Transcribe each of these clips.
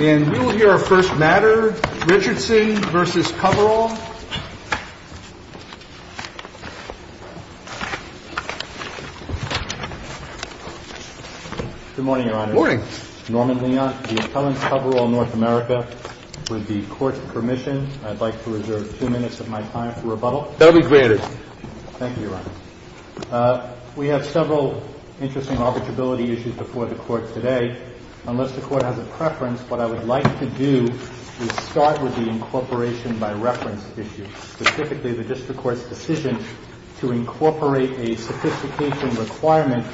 And we will hear our first matter, Richardson v. Coverall. Good morning, Your Honor. Good morning. Norman Leon, the appellant, Coverall, North America. With the Court's permission, I'd like to reserve two minutes of my time for rebuttal. That will be granted. Thank you, Your Honor. We have several interesting arbitrability issues before the Court today. Unless the Court has a preference, what I would like to do is start with the incorporation by reference issue, specifically the district court's decision to incorporate a sophistication requirement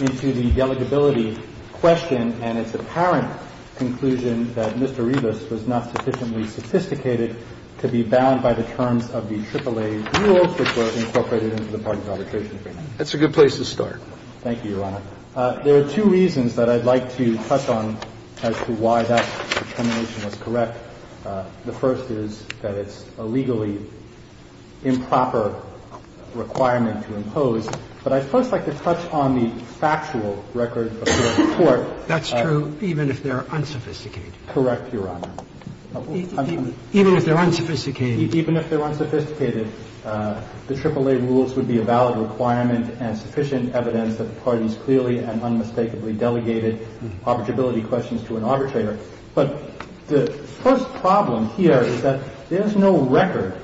into the delegability question and its apparent conclusion that Mr. Rivas was not sufficiently sophisticated to be bound by the terms of the AAA rules, which were incorporated into the party's arbitration agreement. Thank you, Your Honor. There are two reasons that I'd like to touch on as to why that determination was correct. The first is that it's a legally improper requirement to impose. But I'd first like to touch on the factual record of the Court. That's true, even if they're unsophisticated. Correct, Your Honor. Even if they're unsophisticated. Even if they're unsophisticated, the AAA rules would be a valid requirement and sufficient evidence that the parties clearly and unmistakably delegated arbitrability questions to an arbitrator. But the first problem here is that there's no record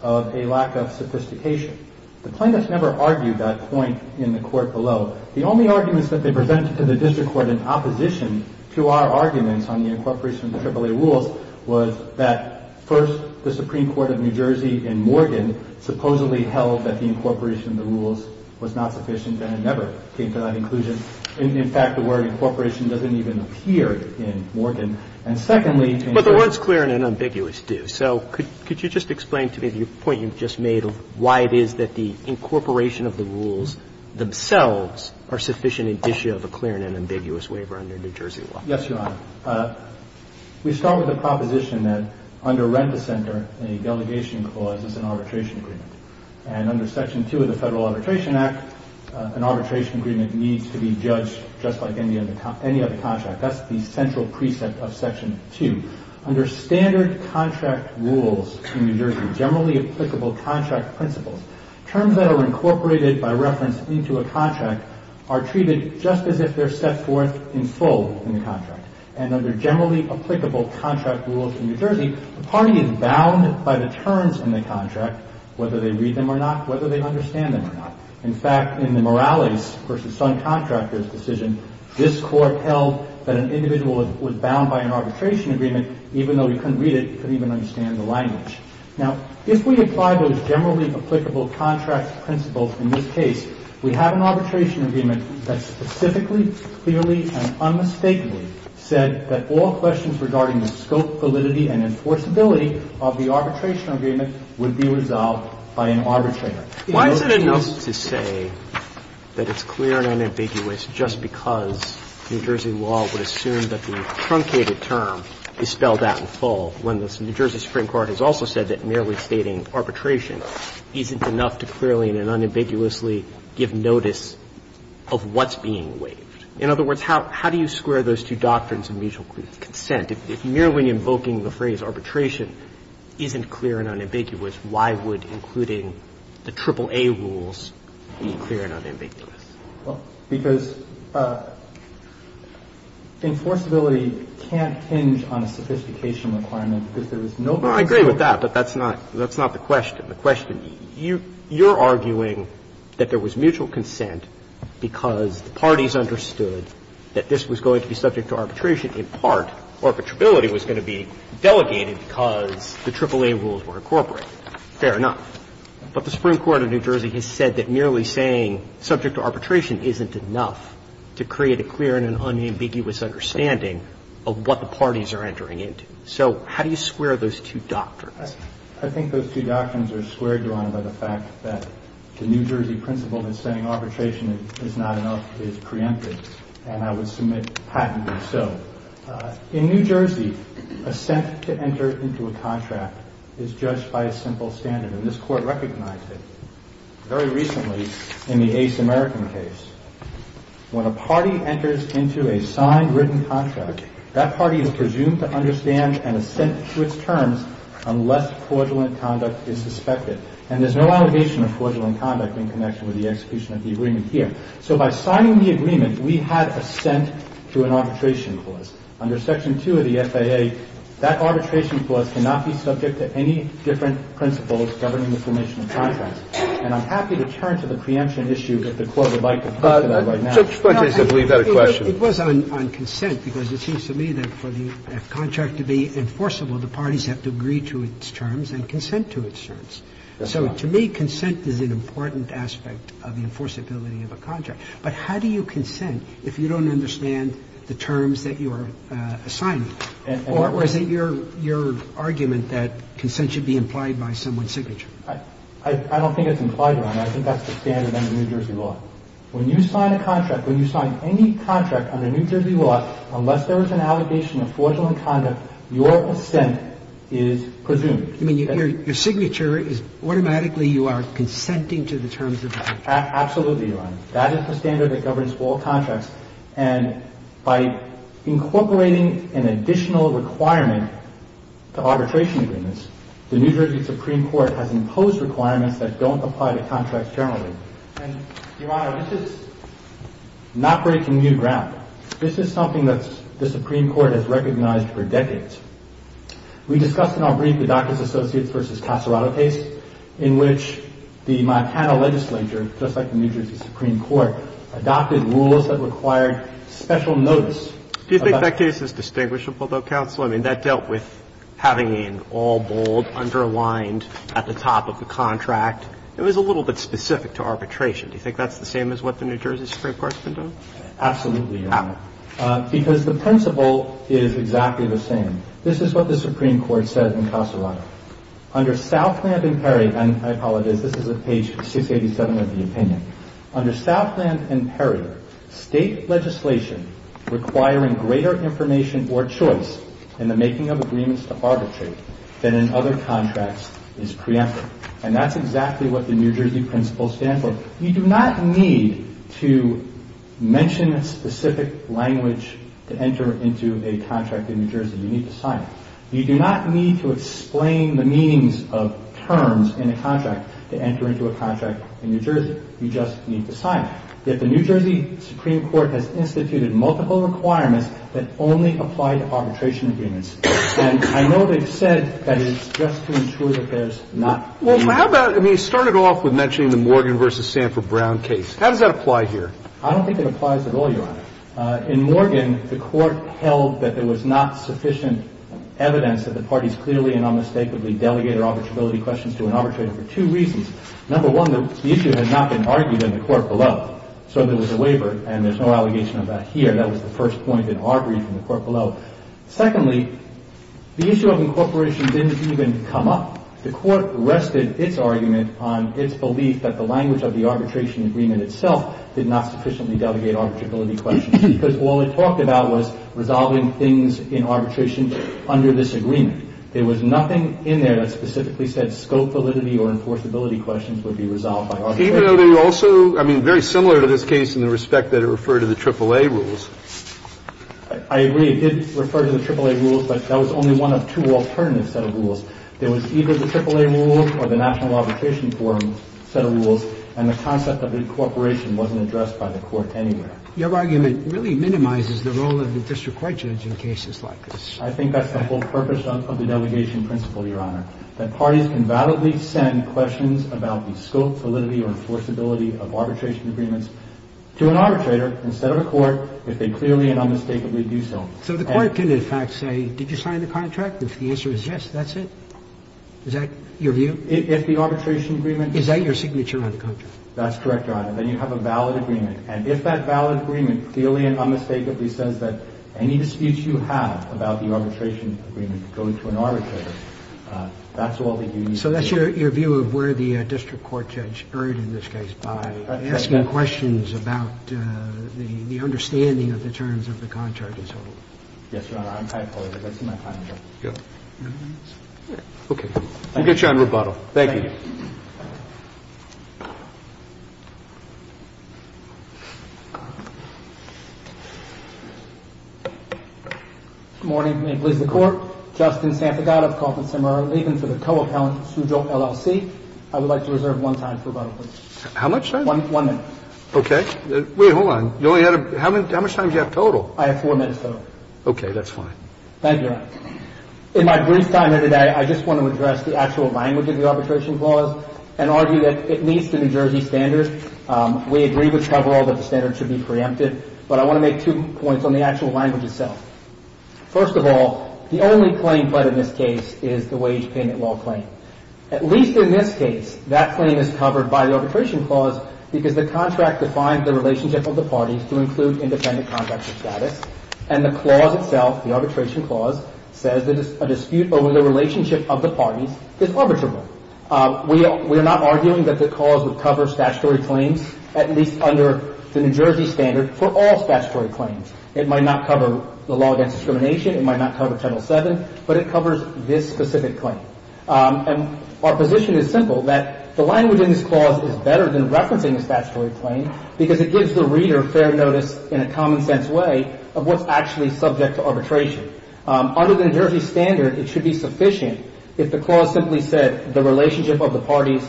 of a lack of sophistication. The plaintiffs never argued that point in the Court below. The only arguments that they presented to the district court in opposition to our arguments on the incorporation of the AAA rules was that first, the Supreme Court of New Jersey in Morgan supposedly held that the incorporation of the rules was not sufficient, and it never came to that conclusion. In fact, the word incorporation doesn't even appear in Morgan. And secondly, to include the ---- But the words clear and unambiguous do. So could you just explain to me the point you just made of why it is that the incorporation of the rules themselves are sufficient indicia of a clear and unambiguous waiver under New Jersey law? Yes, Your Honor. We start with the proposition that under Rent-a-Center, a delegation clause, it's an arbitration agreement. And under Section 2 of the Federal Arbitration Act, an arbitration agreement needs to be judged just like any other contract. That's the central precept of Section 2. Under standard contract rules in New Jersey, generally applicable contract principles, terms that are incorporated by reference into a contract are treated just as if they're set forth in full in the contract. And under generally applicable contract rules in New Jersey, the party is bound by the terms in the contract, whether they read them or not, whether they understand them or not. In fact, in the Morales v. Sun Contractors decision, this Court held that an individual was bound by an arbitration agreement even though he couldn't read it, couldn't even understand the language. Now, if we apply those generally applicable contract principles in this case, we have an arbitration agreement that specifically, clearly, and unmistakably said that all questions regarding the scope, validity, and enforceability of the arbitration agreement would be resolved by an arbitrator. Why is it enough to say that it's clear and unambiguous just because New Jersey law would assume that the truncated term is spelled out in full when the New Jersey Supreme Court has also said that merely stating arbitration isn't enough to clearly and unambiguously give notice of what's being waived? In other words, how do you square those two doctrines of mutual consent? If merely invoking the phrase arbitration isn't clear and unambiguous, why would including the AAA rules be clear and unambiguous? Well, because enforceability can't hinge on a sophistication requirement because there is no one scope. Well, I agree with that, but that's not the question. You're arguing that there was mutual consent because the parties understood that this was going to be subject to arbitration. In part, arbitrability was going to be delegated because the AAA rules were incorporated. Fair enough. But the Supreme Court of New Jersey has said that merely saying subject to arbitration isn't enough to create a clear and unambiguous understanding of what the parties are entering into. So how do you square those two doctrines? I think those two doctrines are square drawn by the fact that the New Jersey principle that saying arbitration is not enough is preemptive, and I would submit patently so. In New Jersey, assent to enter into a contract is judged by a simple standard, and this Court recognized it very recently in the Ace American case. When a party enters into a signed written contract, that party is presumed to understand and assent to its terms unless fraudulent conduct is suspected. And there's no allegation of fraudulent conduct in connection with the execution of the agreement here. So by signing the agreement, we had assent to an arbitration clause. Under Section 2 of the FAA, that arbitration clause cannot be subject to any different principles governing the formation of contracts. And I'm happy to turn to the preemption issue that the Court would like to put to that right now. So I think the Court's argument is that the contract must be signed. So just a quick case of leave that a question. It was on consent, because it seems to me that for the contract to be enforceable, the parties have to agree to its terms and consent to its terms. So to me, consent is an important aspect of the enforceability of a contract. But how do you consent if you don't understand the terms that you are assigning? Or is it your argument that consent should be implied by someone's signature? I don't think it's implied, Your Honor. I think that's the standard under New Jersey law. When you sign a contract, when you sign any contract under New Jersey law, unless there is an allegation of fraudulent conduct, your assent is presumed. You mean your signature is automatically you are consenting to the terms of the contract? Absolutely, Your Honor. That is the standard that governs all contracts. And by incorporating an additional requirement to arbitration agreements, the New Jersey Supreme Court has imposed requirements that don't apply to contracts generally. And, Your Honor, this is not breaking new ground. This is something that the Supreme Court has recognized for decades. We discussed in our brief the Dacus Associates v. Casarado case in which the Montana legislature, just like the New Jersey Supreme Court, adopted rules that required special notice. Do you think that case is distinguishable, though, counsel? I mean, that dealt with having an all bold, underlined at the top of the contract. It was a little bit specific to arbitration. Do you think that's the same as what the New Jersey Supreme Court's been doing? Absolutely, Your Honor. How? Because the principle is exactly the same. This is what the Supreme Court said in Casarado. Under Southland v. Perry, and I apologize, this is at page 687 of the opinion. Under Southland v. Perry, state legislation requiring greater information or choice in the making of agreements to arbitrate than in other contracts is preemptive. And that's exactly what the New Jersey principle stands for. You do not need to mention a specific language to enter into a contract in New Jersey. You need to sign it. You do not need to explain the meanings of terms in a contract to enter into a contract in New Jersey. You just need to sign it. Yet the New Jersey Supreme Court has instituted multiple requirements that only apply to arbitration agreements. And I know they've said that it's just to ensure that there's not. Well, how about – I mean, it started off with mentioning the Morgan v. Sanford Brown case. How does that apply here? I don't think it applies at all, Your Honor. In Morgan, the Court held that there was not sufficient evidence that the parties clearly and unmistakably delegated arbitrability questions to an arbitrator for two reasons. Number one, the issue had not been argued in the court below. So there was a waiver, and there's no allegation of that here. That was the first point in our brief in the court below. Secondly, the issue of incorporation didn't even come up. The Court rested its argument on its belief that the language of the arbitration agreement itself did not sufficiently delegate arbitrability questions because all it talked about was resolving things in arbitration under this agreement. There was nothing in there that specifically said scope validity or enforceability questions would be resolved by arbitration. Even though they also – I mean, very similar to this case in the respect that it referred to the AAA rules. I agree. It did refer to the AAA rules, but that was only one of two alternative set of rules. There was either the AAA rules or the National Arbitration Forum set of rules, and the concept of incorporation wasn't addressed by the Court anywhere. Your argument really minimizes the role of the district court judge in cases like this. I think that's the whole purpose of the delegation principle, Your Honor, that parties can validly send questions about the scope, validity, or enforceability of arbitration agreements to an arbitrator instead of a court if they clearly and unmistakably do so. So the Court can, in fact, say, did you sign the contract? If the answer is yes, that's it? Is that your view? If the arbitration agreement – Is that your signature on the contract? That's correct, Your Honor. Then you have a valid agreement. And if that valid agreement clearly and unmistakably says that any disputes you have about the arbitration agreement go to an arbitrator, that's all that you need to know. So that's your view of where the district court judge erred in this case by asking questions about the understanding of the terms of the contract as a whole? Yes, Your Honor. I'm quite positive. That's in my contract. Okay. We'll get you on rebuttal. Thank you. Thank you. Good morning. May it please the Court. Justin Santagada of Carlton-Semer, leaving for the co-appellant, Sujo, LLC. I would like to reserve one time for rebuttal, please. How much time? One minute. Okay. Wait, hold on. You only had a – how much time do you have total? I have four minutes total. Okay. That's fine. Thank you, Your Honor. clause and argue that it's important to understand the language of the arbitration clause. I would argue that it meets the New Jersey standard. We agree with coverall that the standard should be preempted, but I want to make two points on the actual language itself. First of all, the only claim pledged in this case is the wage payment law claim. At least in this case, that claim is covered by the arbitration clause because the contract defines the relationship of the parties to include independent contracts of status, and the clause itself, the arbitration clause, says that a dispute over the relationship of the parties is arbitrable. We are not arguing that the clause would cover statutory claims, at least under the New Jersey standard, for all statutory claims. It might not cover the law against discrimination. It might not cover Title VII, but it covers this specific claim. And our position is simple, that the language in this clause is better than referencing a statutory claim because it gives the reader fair notice in a common-sense way of what's actually subject to arbitration. Under the New Jersey standard, it should be sufficient if the clause simply said, the relationship of the parties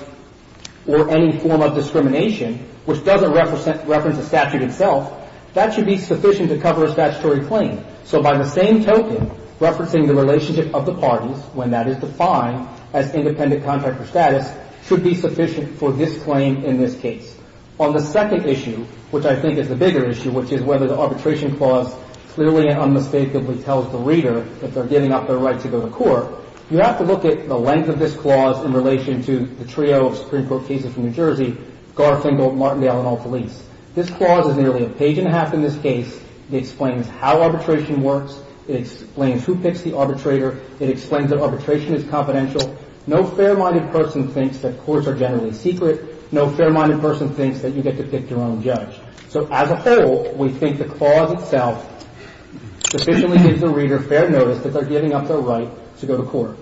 or any form of discrimination, which doesn't reference the statute itself, that should be sufficient to cover a statutory claim. So by the same token, referencing the relationship of the parties, when that is defined as independent contract of status, should be sufficient for this claim in this case. On the second issue, which I think is the bigger issue, which is whether the arbitration clause clearly and unmistakably tells the reader that they're giving up their right to go to court, you have to look at the length of this clause in relation to the trio of Supreme Court cases from New Jersey, Garfinkel, Martindale, and all police. This clause is nearly a page and a half in this case. It explains how arbitration works. It explains who picks the arbitrator. It explains that arbitration is confidential. No fair-minded person thinks that courts are generally secret. No fair-minded person thinks that you get to pick your own judge. So as a whole, we think the clause itself sufficiently gives the reader fair notice that they're giving up their right to go to court.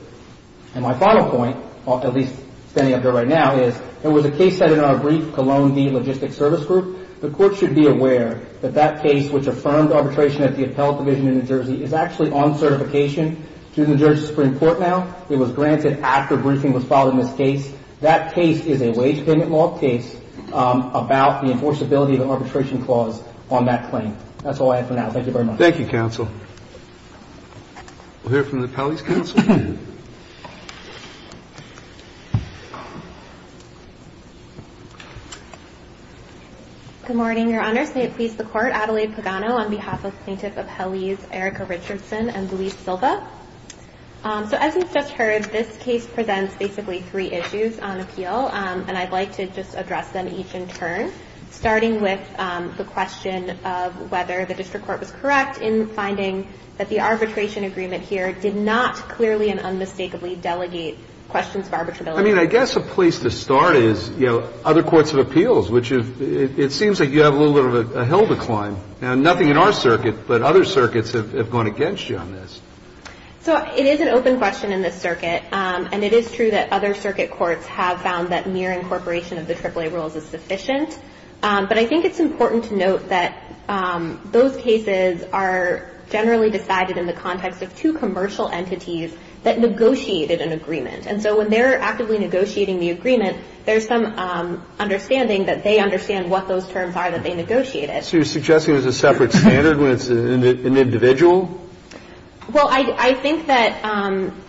And my final point, at least standing up here right now, is there was a case set in our brief, Cologne v. Logistics Service Group. The court should be aware that that case, which affirmed arbitration at the appellate division in New Jersey, is actually on certification to the New Jersey Supreme Court now. It was granted after a briefing was filed in this case. That case is a wage payment law case about the enforceability of an arbitration clause on that claim. That's all I have for now. Thank you very much. Thank you, counsel. We'll hear from the appellees' counsel. Good morning, Your Honors. May it please the Court. Adelaide Pagano on behalf of plaintiff appellees Erica Richardson and Luis Silva. So as we've just heard, this case presents basically three issues on appeal. And I'd like to just address them each in turn, starting with the question of whether the district court was correct in finding that the arbitration agreement here did not clearly and unmistakably delegate questions of arbitrability. I mean, I guess a place to start is, you know, other courts of appeals, which it seems circuit, but other circuits have gone against you on this. So it is an open question in this circuit, and it is true that other circuit courts have found that mere incorporation of the AAA rules is sufficient. But I think it's important to note that those cases are generally decided in the context of two commercial entities that negotiated an agreement. And so when they're actively negotiating the agreement, there's some understanding that they understand what those terms are that they negotiated. So you're suggesting there's a separate standard when it's an individual? Well, I think that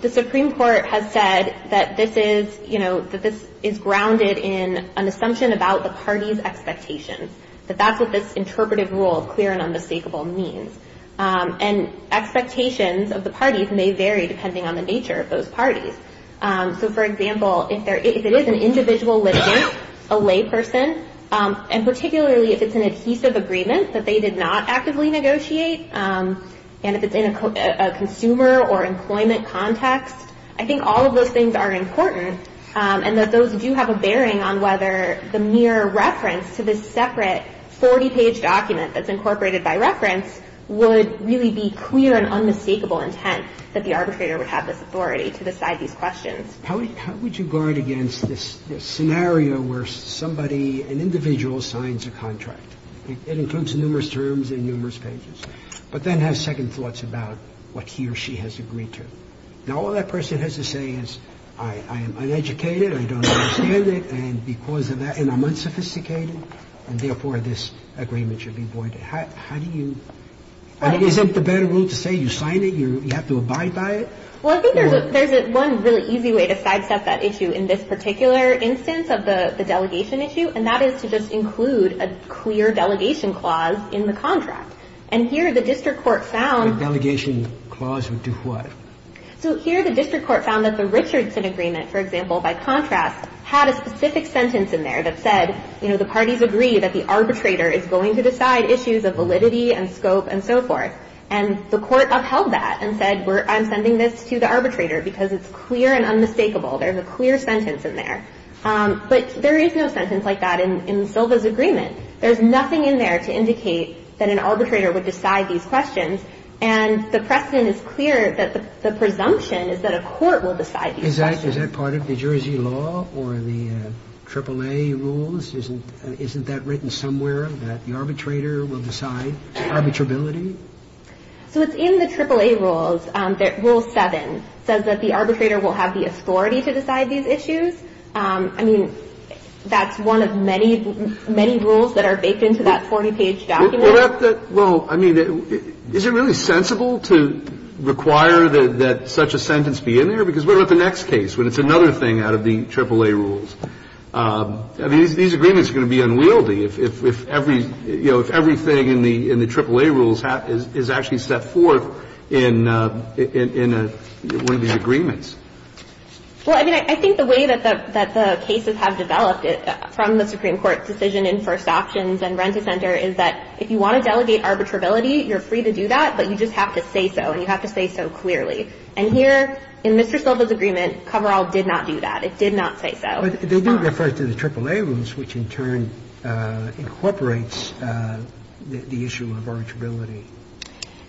the Supreme Court has said that this is, you know, that this is grounded in an assumption about the party's expectations, that that's what this interpretive rule of clear and unmistakable means. And expectations of the parties may vary depending on the nature of those parties. So, for example, if it is an individual litigant, a layperson, and particularly if it's an adhesive agreement that they did not actively negotiate, and if it's in a consumer or employment context, I think all of those things are important, and that those do have a bearing on whether the mere reference to this separate 40-page document that's incorporated by reference would really be clear and unmistakable intent that the arbitrator would have this authority to decide these questions. How would you guard against this scenario where somebody, an individual, signs a contract? It includes numerous terms and numerous pages. But then has second thoughts about what he or she has agreed to. Now, all that person has to say is, I am uneducated, I don't understand it, and because of that, and I'm unsophisticated, and therefore this agreement should be voided. How do you – and isn't the better rule to say you sign it, you have to abide by it? Well, I think there's one really easy way to sidestep that issue in this particular instance of the delegation issue, and that is to just include a clear delegation clause in the contract. And here the district court found – The delegation clause would do what? So here the district court found that the Richardson agreement, for example, by contrast, had a specific sentence in there that said, you know, the parties agree that the arbitrator is going to decide issues of validity and scope and so forth. And the court upheld that and said, we're – I'm sending this to the arbitrator because it's clear and unmistakable. There's a clear sentence in there. But there is no sentence like that in Silva's agreement. There's nothing in there to indicate that an arbitrator would decide these questions. And the precedent is clear that the presumption is that a court will decide these questions. Is that part of New Jersey law or the AAA rules? Isn't that written somewhere that the arbitrator will decide arbitrability? So it's in the AAA rules that Rule 7 says that the arbitrator will have the authority to decide these issues. I mean, that's one of many, many rules that are baked into that 40-page document. Well, I mean, is it really sensible to require that such a sentence be in there? Because what about the next case when it's another thing out of the AAA rules? These agreements are going to be unwieldy if every – you know, if everything that's happening in the AAA rules is actually set forth in one of these agreements. Well, I mean, I think the way that the cases have developed from the Supreme Court decision in first options and Renta Center is that if you want to delegate arbitrability, you're free to do that, but you just have to say so and you have to say so clearly. And here in Mr. Silva's agreement, Coverall did not do that. It did not say so. But they do refer to the AAA rules, which in turn incorporates the issue of arbitrability.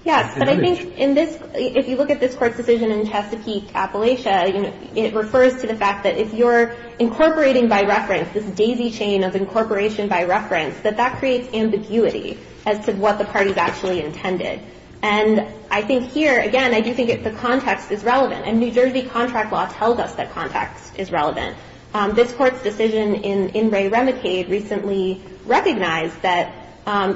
Yes, but I think in this – if you look at this Court's decision in Chesapeake, Appalachia, it refers to the fact that if you're incorporating by reference this daisy chain of incorporation by reference, that that creates ambiguity as to what the parties actually intended. And I think here, again, I do think the context is relevant. And New Jersey contract law tells us that context is relevant. This Court's decision in Wray-Remicade recently recognized that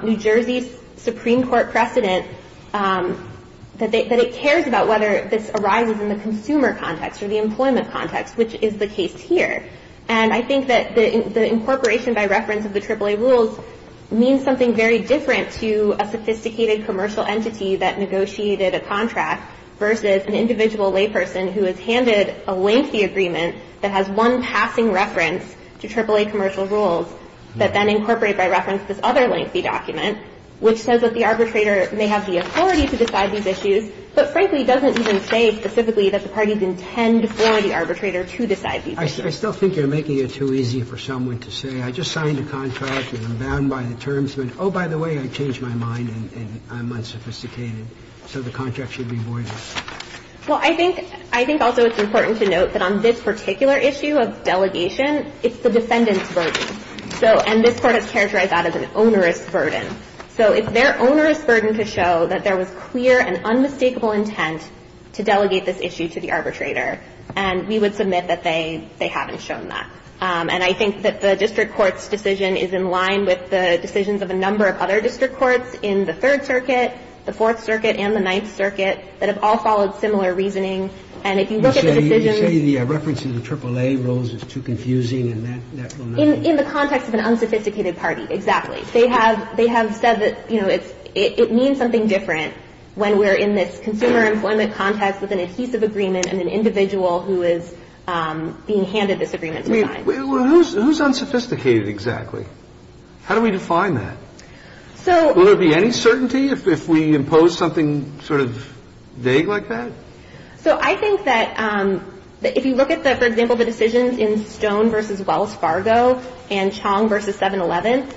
New Jersey's Supreme Court precedent, that it cares about whether this arises in the consumer context or the employment context, which is the case here. And I think that the incorporation by reference of the AAA rules means something very different to a sophisticated commercial entity that negotiated a contract versus an individual layperson who has handed a lengthy agreement that has one passing reference to AAA commercial rules that then incorporate by reference this other lengthy document, which says that the arbitrator may have the authority to decide these issues, but frankly doesn't even say specifically that the parties intend for the arbitrator to decide these issues. I still think you're making it too easy for someone to say, I just signed a contract and I'm bound by the terms. Oh, by the way, I changed my mind and I'm unsophisticated, so the contract should be void. Well, I think also it's important to note that on this particular issue of delegation, it's the defendant's burden. So, and this Court has characterized that as an onerous burden. So it's their onerous burden to show that there was clear and unmistakable intent to delegate this issue to the arbitrator. And we would submit that they haven't shown that. And I think that the district court's decision is in line with the decisions of a number of other district courts in the Third Circuit, the Fourth Circuit, and the Ninth Circuit that have all followed similar reasoning, and if you look at the decisions You say the reference to the AAA rules is too confusing and that will not be? In the context of an unsophisticated party, exactly. They have said that, you know, it means something different when we're in this consumer employment context with an adhesive agreement and an individual who is being handed this agreement to sign. Who's unsophisticated exactly? How do we define that? Will there be any certainty if we impose something sort of vague like that? So I think that if you look at, for example, the decisions in Stone v. Wells Fargo and Chong v. 7-Eleven,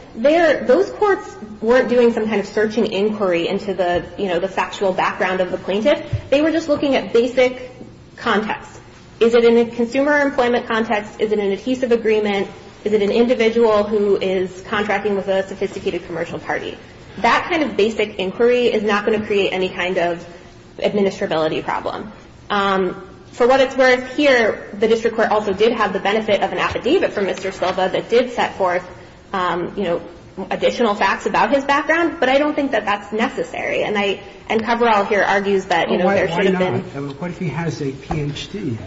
those courts weren't doing some kind of searching inquiry into the factual background of the plaintiff. They were just looking at basic context. Is it in a consumer employment context? Is it an adhesive agreement? Is it an individual who is contracting with a sophisticated commercial party? That kind of basic inquiry is not going to create any kind of administrability problem. For what it's worth here, the district court also did have the benefit of an affidavit from Mr. Silva that did set forth, you know, additional facts about his background, but I don't think that that's necessary. And I – and Cabral here argues that, you know, there should have been. to do anything that he's not supposed to do in a commercial case? What if he has a Ph.D.?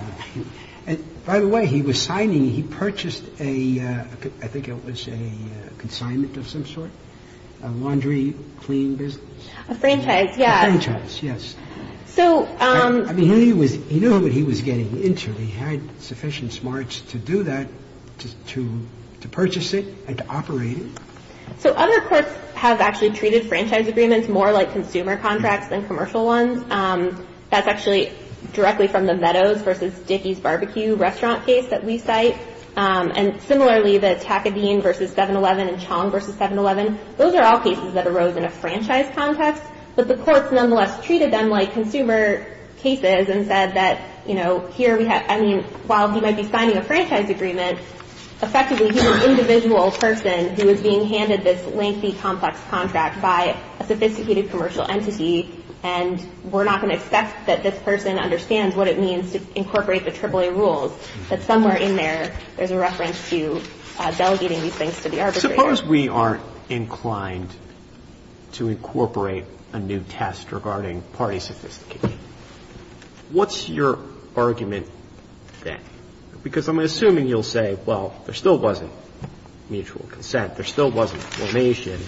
And by the way, he was signing – he purchased a – I think it was a consignment of some sort? A laundry clean business? A franchise, yeah. A franchise, yes. So – I mean, he was – he knew what he was getting into. But he had sufficient smarts to do that, to purchase it and to operate it? So other courts have actually treated franchise agreements more like consumer contracts than commercial ones. That's actually directly from the Meadows v. Dickey's BBQ restaurant case that we cite. And similarly, the Takabine v. 7-Eleven and Chong v. 7-Eleven, those are all cases that arose in a franchise context. So here we have – I mean, while he might be signing a franchise agreement, effectively he's an individual person who is being handed this lengthy, complex contract by a sophisticated commercial entity, and we're not going to accept that this person understands what it means to incorporate the AAA rules, that somewhere in there, there's a reference to delegating these things to the arbitrator. Suppose we are inclined to incorporate a new test regarding party sophistication. What's your argument then? Because I'm assuming you'll say, well, there still wasn't mutual consent. There still wasn't formation.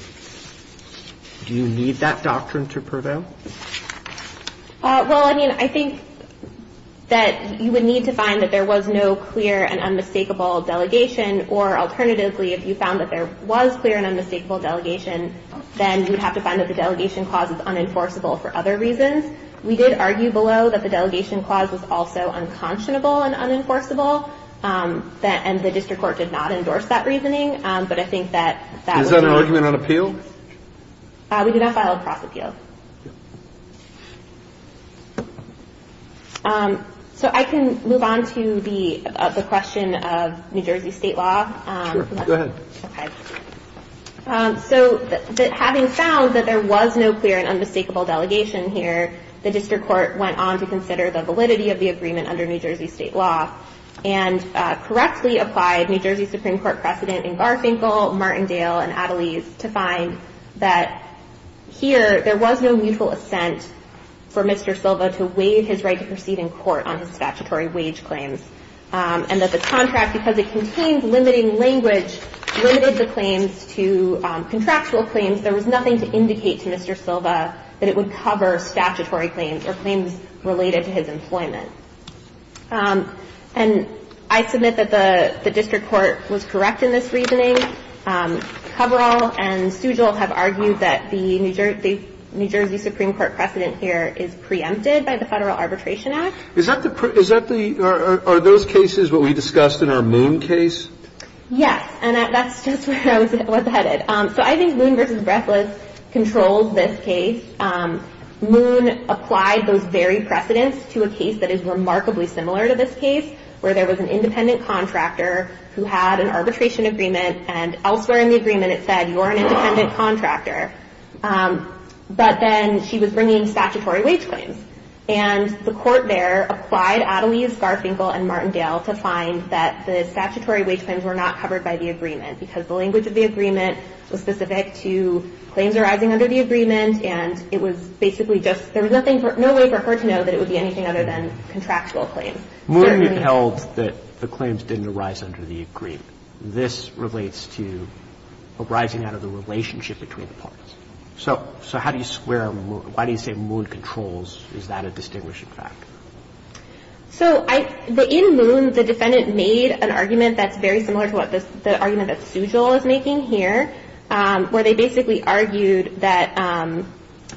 Do you need that doctrine to prevail? Well, I mean, I think that you would need to find that there was no clear and unmistakable delegation, or alternatively, if you found that there was clear and unmistakable delegation, then you would have to find that the delegation clause is unenforceable for other reasons. We did argue below that the delegation clause was also unconscionable and unenforceable, and the district court did not endorse that reasoning. But I think that – Is that an argument on appeal? We did not file a cross appeal. So I can move on to the question of New Jersey state law. Sure. Go ahead. Okay. So that having found that there was no clear and unmistakable delegation here, the district court went on to consider the validity of the agreement under New Jersey state law, and correctly applied New Jersey Supreme Court precedent in Garfinkel, Martindale, and Adelaide to find that here there was no mutual assent for Mr. Silva to waive his right to proceed in court on his statutory wage claims, and that the contract, because it contains limiting language, limited the claims to contractual claims. There was nothing to indicate to Mr. Silva that it would cover statutory claims or claims related to his employment. And I submit that the district court was correct in this reasoning. Coverall and Stugall have argued that the New Jersey Supreme Court precedent here is preempted by the Federal Arbitration Act. Are those cases what we discussed in our Moon case? Yes. And that's just where I was headed. So I think Moon v. Breathless controls this case. Moon applied those very precedents to a case that is remarkably similar to this case, where there was an independent contractor who had an arbitration agreement, and elsewhere in the agreement it said, You're an independent contractor. But then she was bringing statutory wage claims. And the court there applied Adelies, Garfinkel, and Martindale to find that the statutory wage claims were not covered by the agreement, because the language of the agreement was specific to claims arising under the agreement. And it was basically just no way for her to know that it would be anything other than contractual claims. Moon upheld that the claims didn't arise under the agreement. This relates to arising out of the relationship between the parties. So why do you say Moon controls? Is that a distinguishing fact? So in Moon, the defendant made an argument that's very similar to the argument that Sujil is making here, where they basically argued that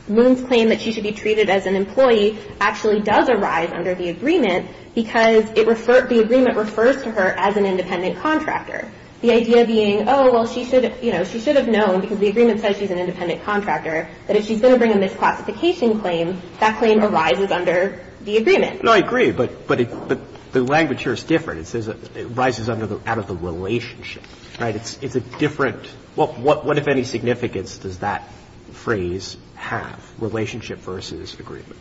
Moon's claim that she should be treated as an employee actually does arise under the agreement, because the agreement refers to her as an independent contractor. The idea being, Oh, well, she should have known, because the agreement says she's an independent contractor, that if she's going to bring a misclassification claim, that claim arises under the agreement. No, I agree. But the language here is different. It says it arises out of the relationship. Right? It's a different – what, if any, significance does that phrase have, relationship versus agreement?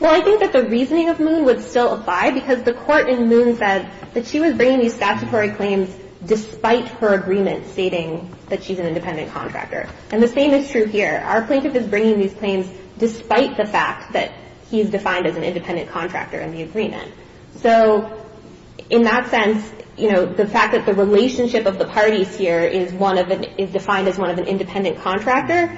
Well, I think that the reasoning of Moon would still apply, because the court in Moon said that she was bringing these statutory claims despite her agreement stating that she's an independent contractor. And the same is true here. Our plaintiff is bringing these claims despite the fact that he is defined as an independent contractor in the agreement. So in that sense, you know, the fact that the relationship of the parties here is defined as one of an independent contractor,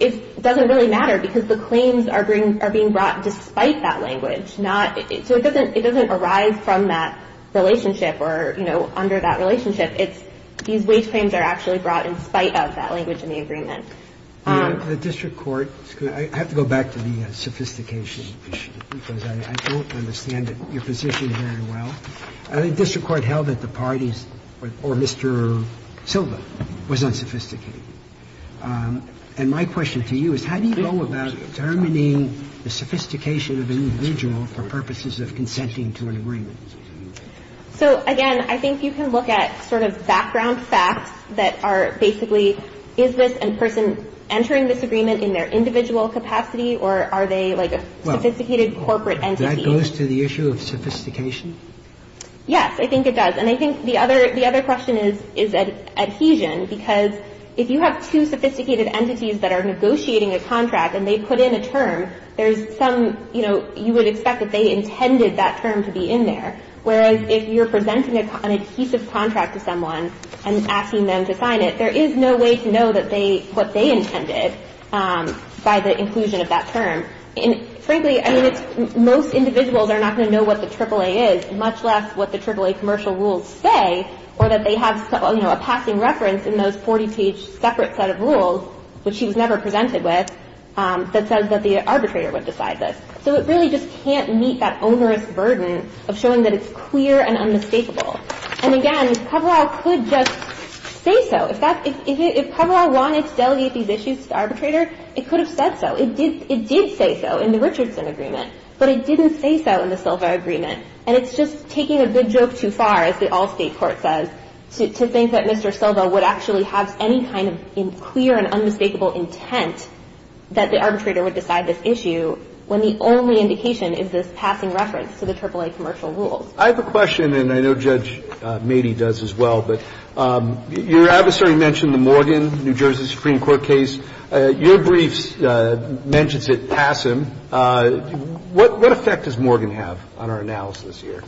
it doesn't really matter, because the claims are being brought despite that language. So it doesn't – it doesn't arise from that relationship or, you know, under that relationship. It's these wage claims are actually brought in spite of that language in the agreement. The district court – I have to go back to the sophistication issue, because I don't understand your position very well. The district court held that the parties or Mr. Silva was unsophisticated. And my question to you is, how do you go about determining the sophistication of an individual for purposes of consenting to an agreement? So, again, I think you can look at sort of background facts that are basically is this person entering this agreement in their individual capacity, or are they like a sophisticated corporate entity? Well, that goes to the issue of sophistication? Yes, I think it does. And I think the other – the other question is adhesion, because if you have two sophisticated entities that are negotiating a contract and they put in a term, there's some – you know, you would expect that they intended that term to be in there, whereas if you're presenting an adhesive contract to someone and asking them to sign it, there is no way to know that they – what they intended by the inclusion of that term. And, frankly, I mean, it's – most individuals are not going to know what the AAA is, much less what the AAA commercial rules say, or that they have, you know, a passing reference in those 40-page separate set of rules, which she was never presented with, that says that the arbitrator would decide this. So it really just can't meet that onerous burden of showing that it's clear and unmistakable. And, again, if Kovaral could just say so, if that's – if Kovaral wanted to delegate these issues to the arbitrator, it could have said so. It did say so in the Richardson agreement, but it didn't say so in the Silva agreement, and it's just taking a big joke too far, as the Allstate Court says, to think that Mr. Silva would actually have any kind of clear and unmistakable intent that the arbitrator would decide this issue when the only indication is this passing reference to the AAA commercial rules. I have a question, and I know Judge Mady does as well, but your adversary mentioned the Morgan, New Jersey Supreme Court case. Your brief mentions it passim. What effect does Morgan have on our analysis here?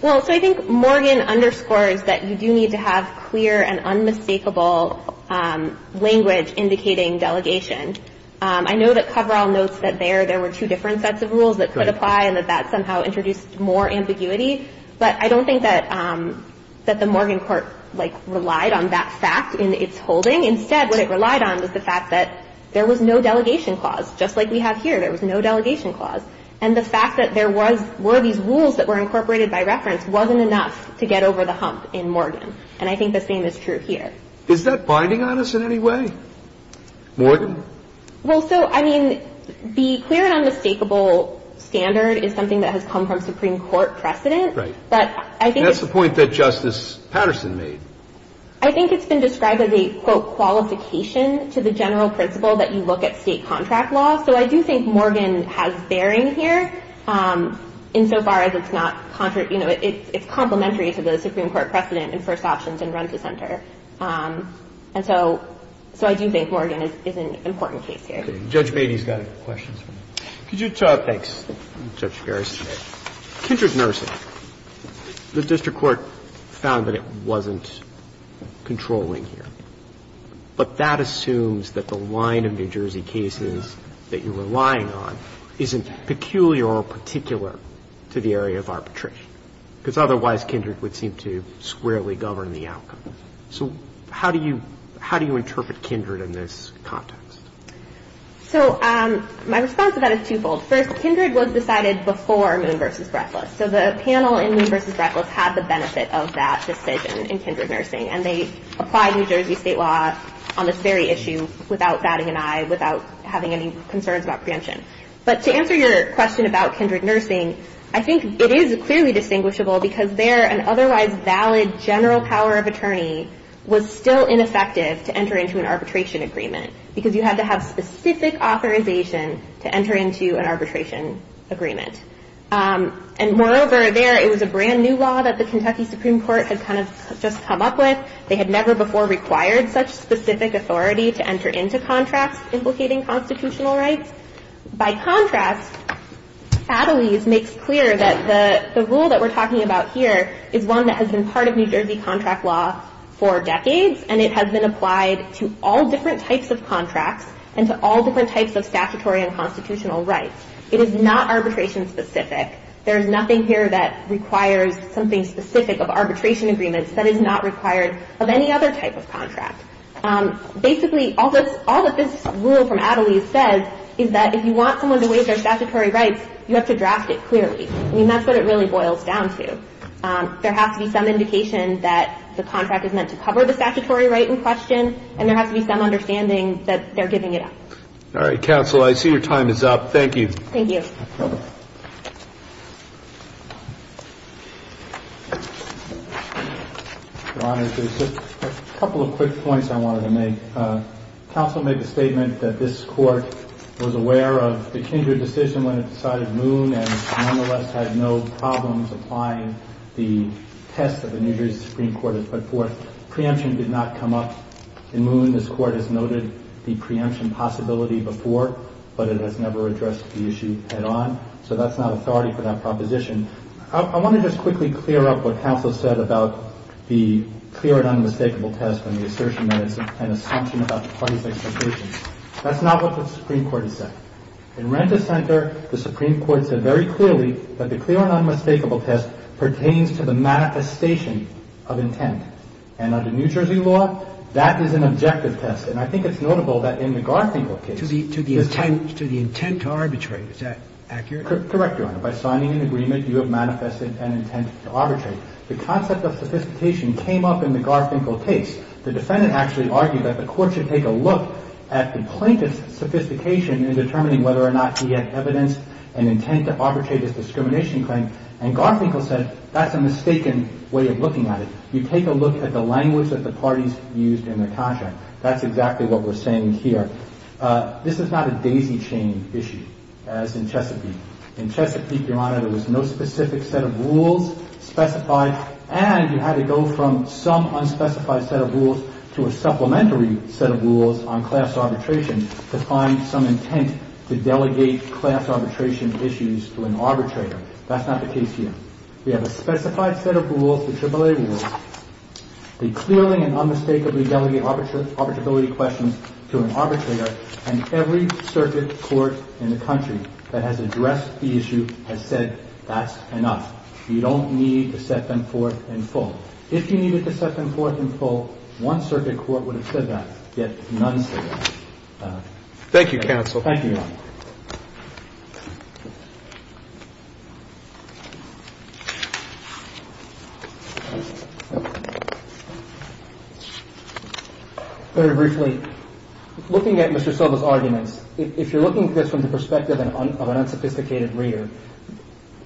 Well, so I think Morgan underscores that you do need to have clear and unmistakable language indicating delegation. I know that Kovaral notes that there, there were two different sets of rules that could apply and that that somehow introduced more ambiguity. But I don't think that the Morgan court, like, relied on that fact in its holding. Instead, what it relied on was the fact that there was no delegation clause, just like we have here. There was no delegation clause. And the fact that there was, were these rules that were incorporated by reference wasn't enough to get over the hump in Morgan. And I think the same is true here. Is that binding on us in any way? Morgan? Well, so, I mean, the clear and unmistakable standard is something that has come from Supreme Court precedent. Right. That's the point that Justice Patterson made. I think it's been described as a, quote, And so I do think Morgan is an important case here. Okay. Judge Beatty's got a question. Could you talk to us? Thanks. Judge Garris. Okay. Kindred Nursing, the district court found that it wasn't controlling here. But that assumes that the line of New Jersey cases that you're relying on isn't peculiar or particular to the area of arbitration. Because otherwise, Kindred would seem to squarely govern the outcome. So how do you interpret Kindred in this context? So my response to that is twofold. First, Kindred was decided before Moon v. Breckless. So the panel in Moon v. Breckless had the benefit of that decision in Kindred Nursing. And they applied New Jersey state law on this very issue without batting an eye, without having any concerns about preemption. But to answer your question about Kindred Nursing, I think it is clearly distinguishable because there an otherwise valid general power of attorney was still ineffective to enter into an arbitration agreement because you had to have specific authorization to enter into an arbitration agreement. And moreover there, it was a brand new law that the Kentucky Supreme Court had kind of just come up with. They had never before required such specific authority to enter into contracts implicating constitutional rights. By contrast, Attlees makes clear that the rule that we're talking about here is one that has been part of New Jersey contract law for decades. And it has been applied to all different types of contracts and to all different types of statutory and constitutional rights. It is not arbitration specific. There is nothing here that requires something specific of arbitration agreements that is not required of any other type of contract. Basically, all that this rule from Attlees says is that if you want someone to waive their statutory rights, you have to draft it clearly. I mean, that's what it really boils down to. There has to be some indication that the contract is meant to cover the statutory right in question and there has to be some understanding that they're giving it up. All right, counsel, I see your time is up. Thank you. Thank you. Your Honor, there's a couple of quick points I wanted to make. Counsel made the statement that this Court was aware of the Kindred decision when it decided Moon and nonetheless had no problems applying the test that the New Jersey Supreme Court had put forth. Preemption did not come up in Moon. This Court has noted the preemption possibility before, but it has never addressed the issue head-on. So that's not authority for that proposition. I want to just quickly clear up what counsel said about the clear and unmistakable test and the assertion that it's an assumption about the parties' expectations. That's not what the Supreme Court has said. In Renta Center, the Supreme Court said very clearly that the clear and unmistakable test pertains to the manifestation of intent. And under New Jersey law, that is an objective test. And I think it's notable that in the Garfinkel case... To the intent to arbitrate. Is that accurate? Correct, Your Honor. By signing an agreement, you have manifested an intent to arbitrate. The concept of sophistication came up in the Garfinkel case. The defendant actually argued that the Court should take a look at the plaintiff's sophistication in determining whether or not he had evidence and intent to arbitrate his discrimination claim. And Garfinkel said that's a mistaken way of looking at it. You take a look at the language that the parties used in their contract. That's exactly what we're saying here. This is not a daisy chain issue, as in Chesapeake. In Chesapeake, Your Honor, there was no specific set of rules specified, and you had to go from some unspecified set of rules to a supplementary set of rules on class arbitration to find some intent to delegate class arbitration issues to an arbitrator. That's not the case here. We have a specified set of rules, the AAA rules. They clearly and unmistakably delegate arbitrability questions to an arbitrator, and every circuit court in the country that has addressed the issue has said that's enough. You don't need to set them forth in full. If you needed to set them forth in full, one circuit court would have said that, yet none said that. Thank you, counsel. Thank you, Your Honor. Very briefly, looking at Mr. Silva's arguments, if you're looking at this from the perspective of an unsophisticated reader,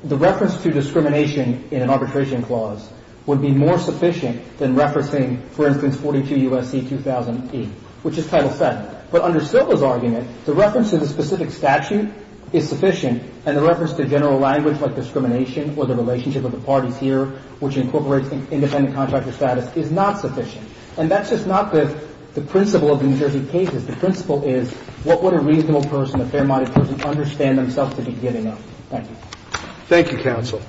the reference to discrimination in an arbitration clause would be more sufficient than referencing, for instance, 42 U.S.C. 2000E, which is Title VII. But under Silva's argument, the reference to the specific statute is sufficient, and the reference to general language like discrimination or the relationship of the parties here, which incorporates independent contractor status, is not sufficient. And that's just not the principle of the New Jersey cases. The principle is what would a reasonable person, a fair-minded person, understand themselves to be giving up. Thank you. Thank you, counsel.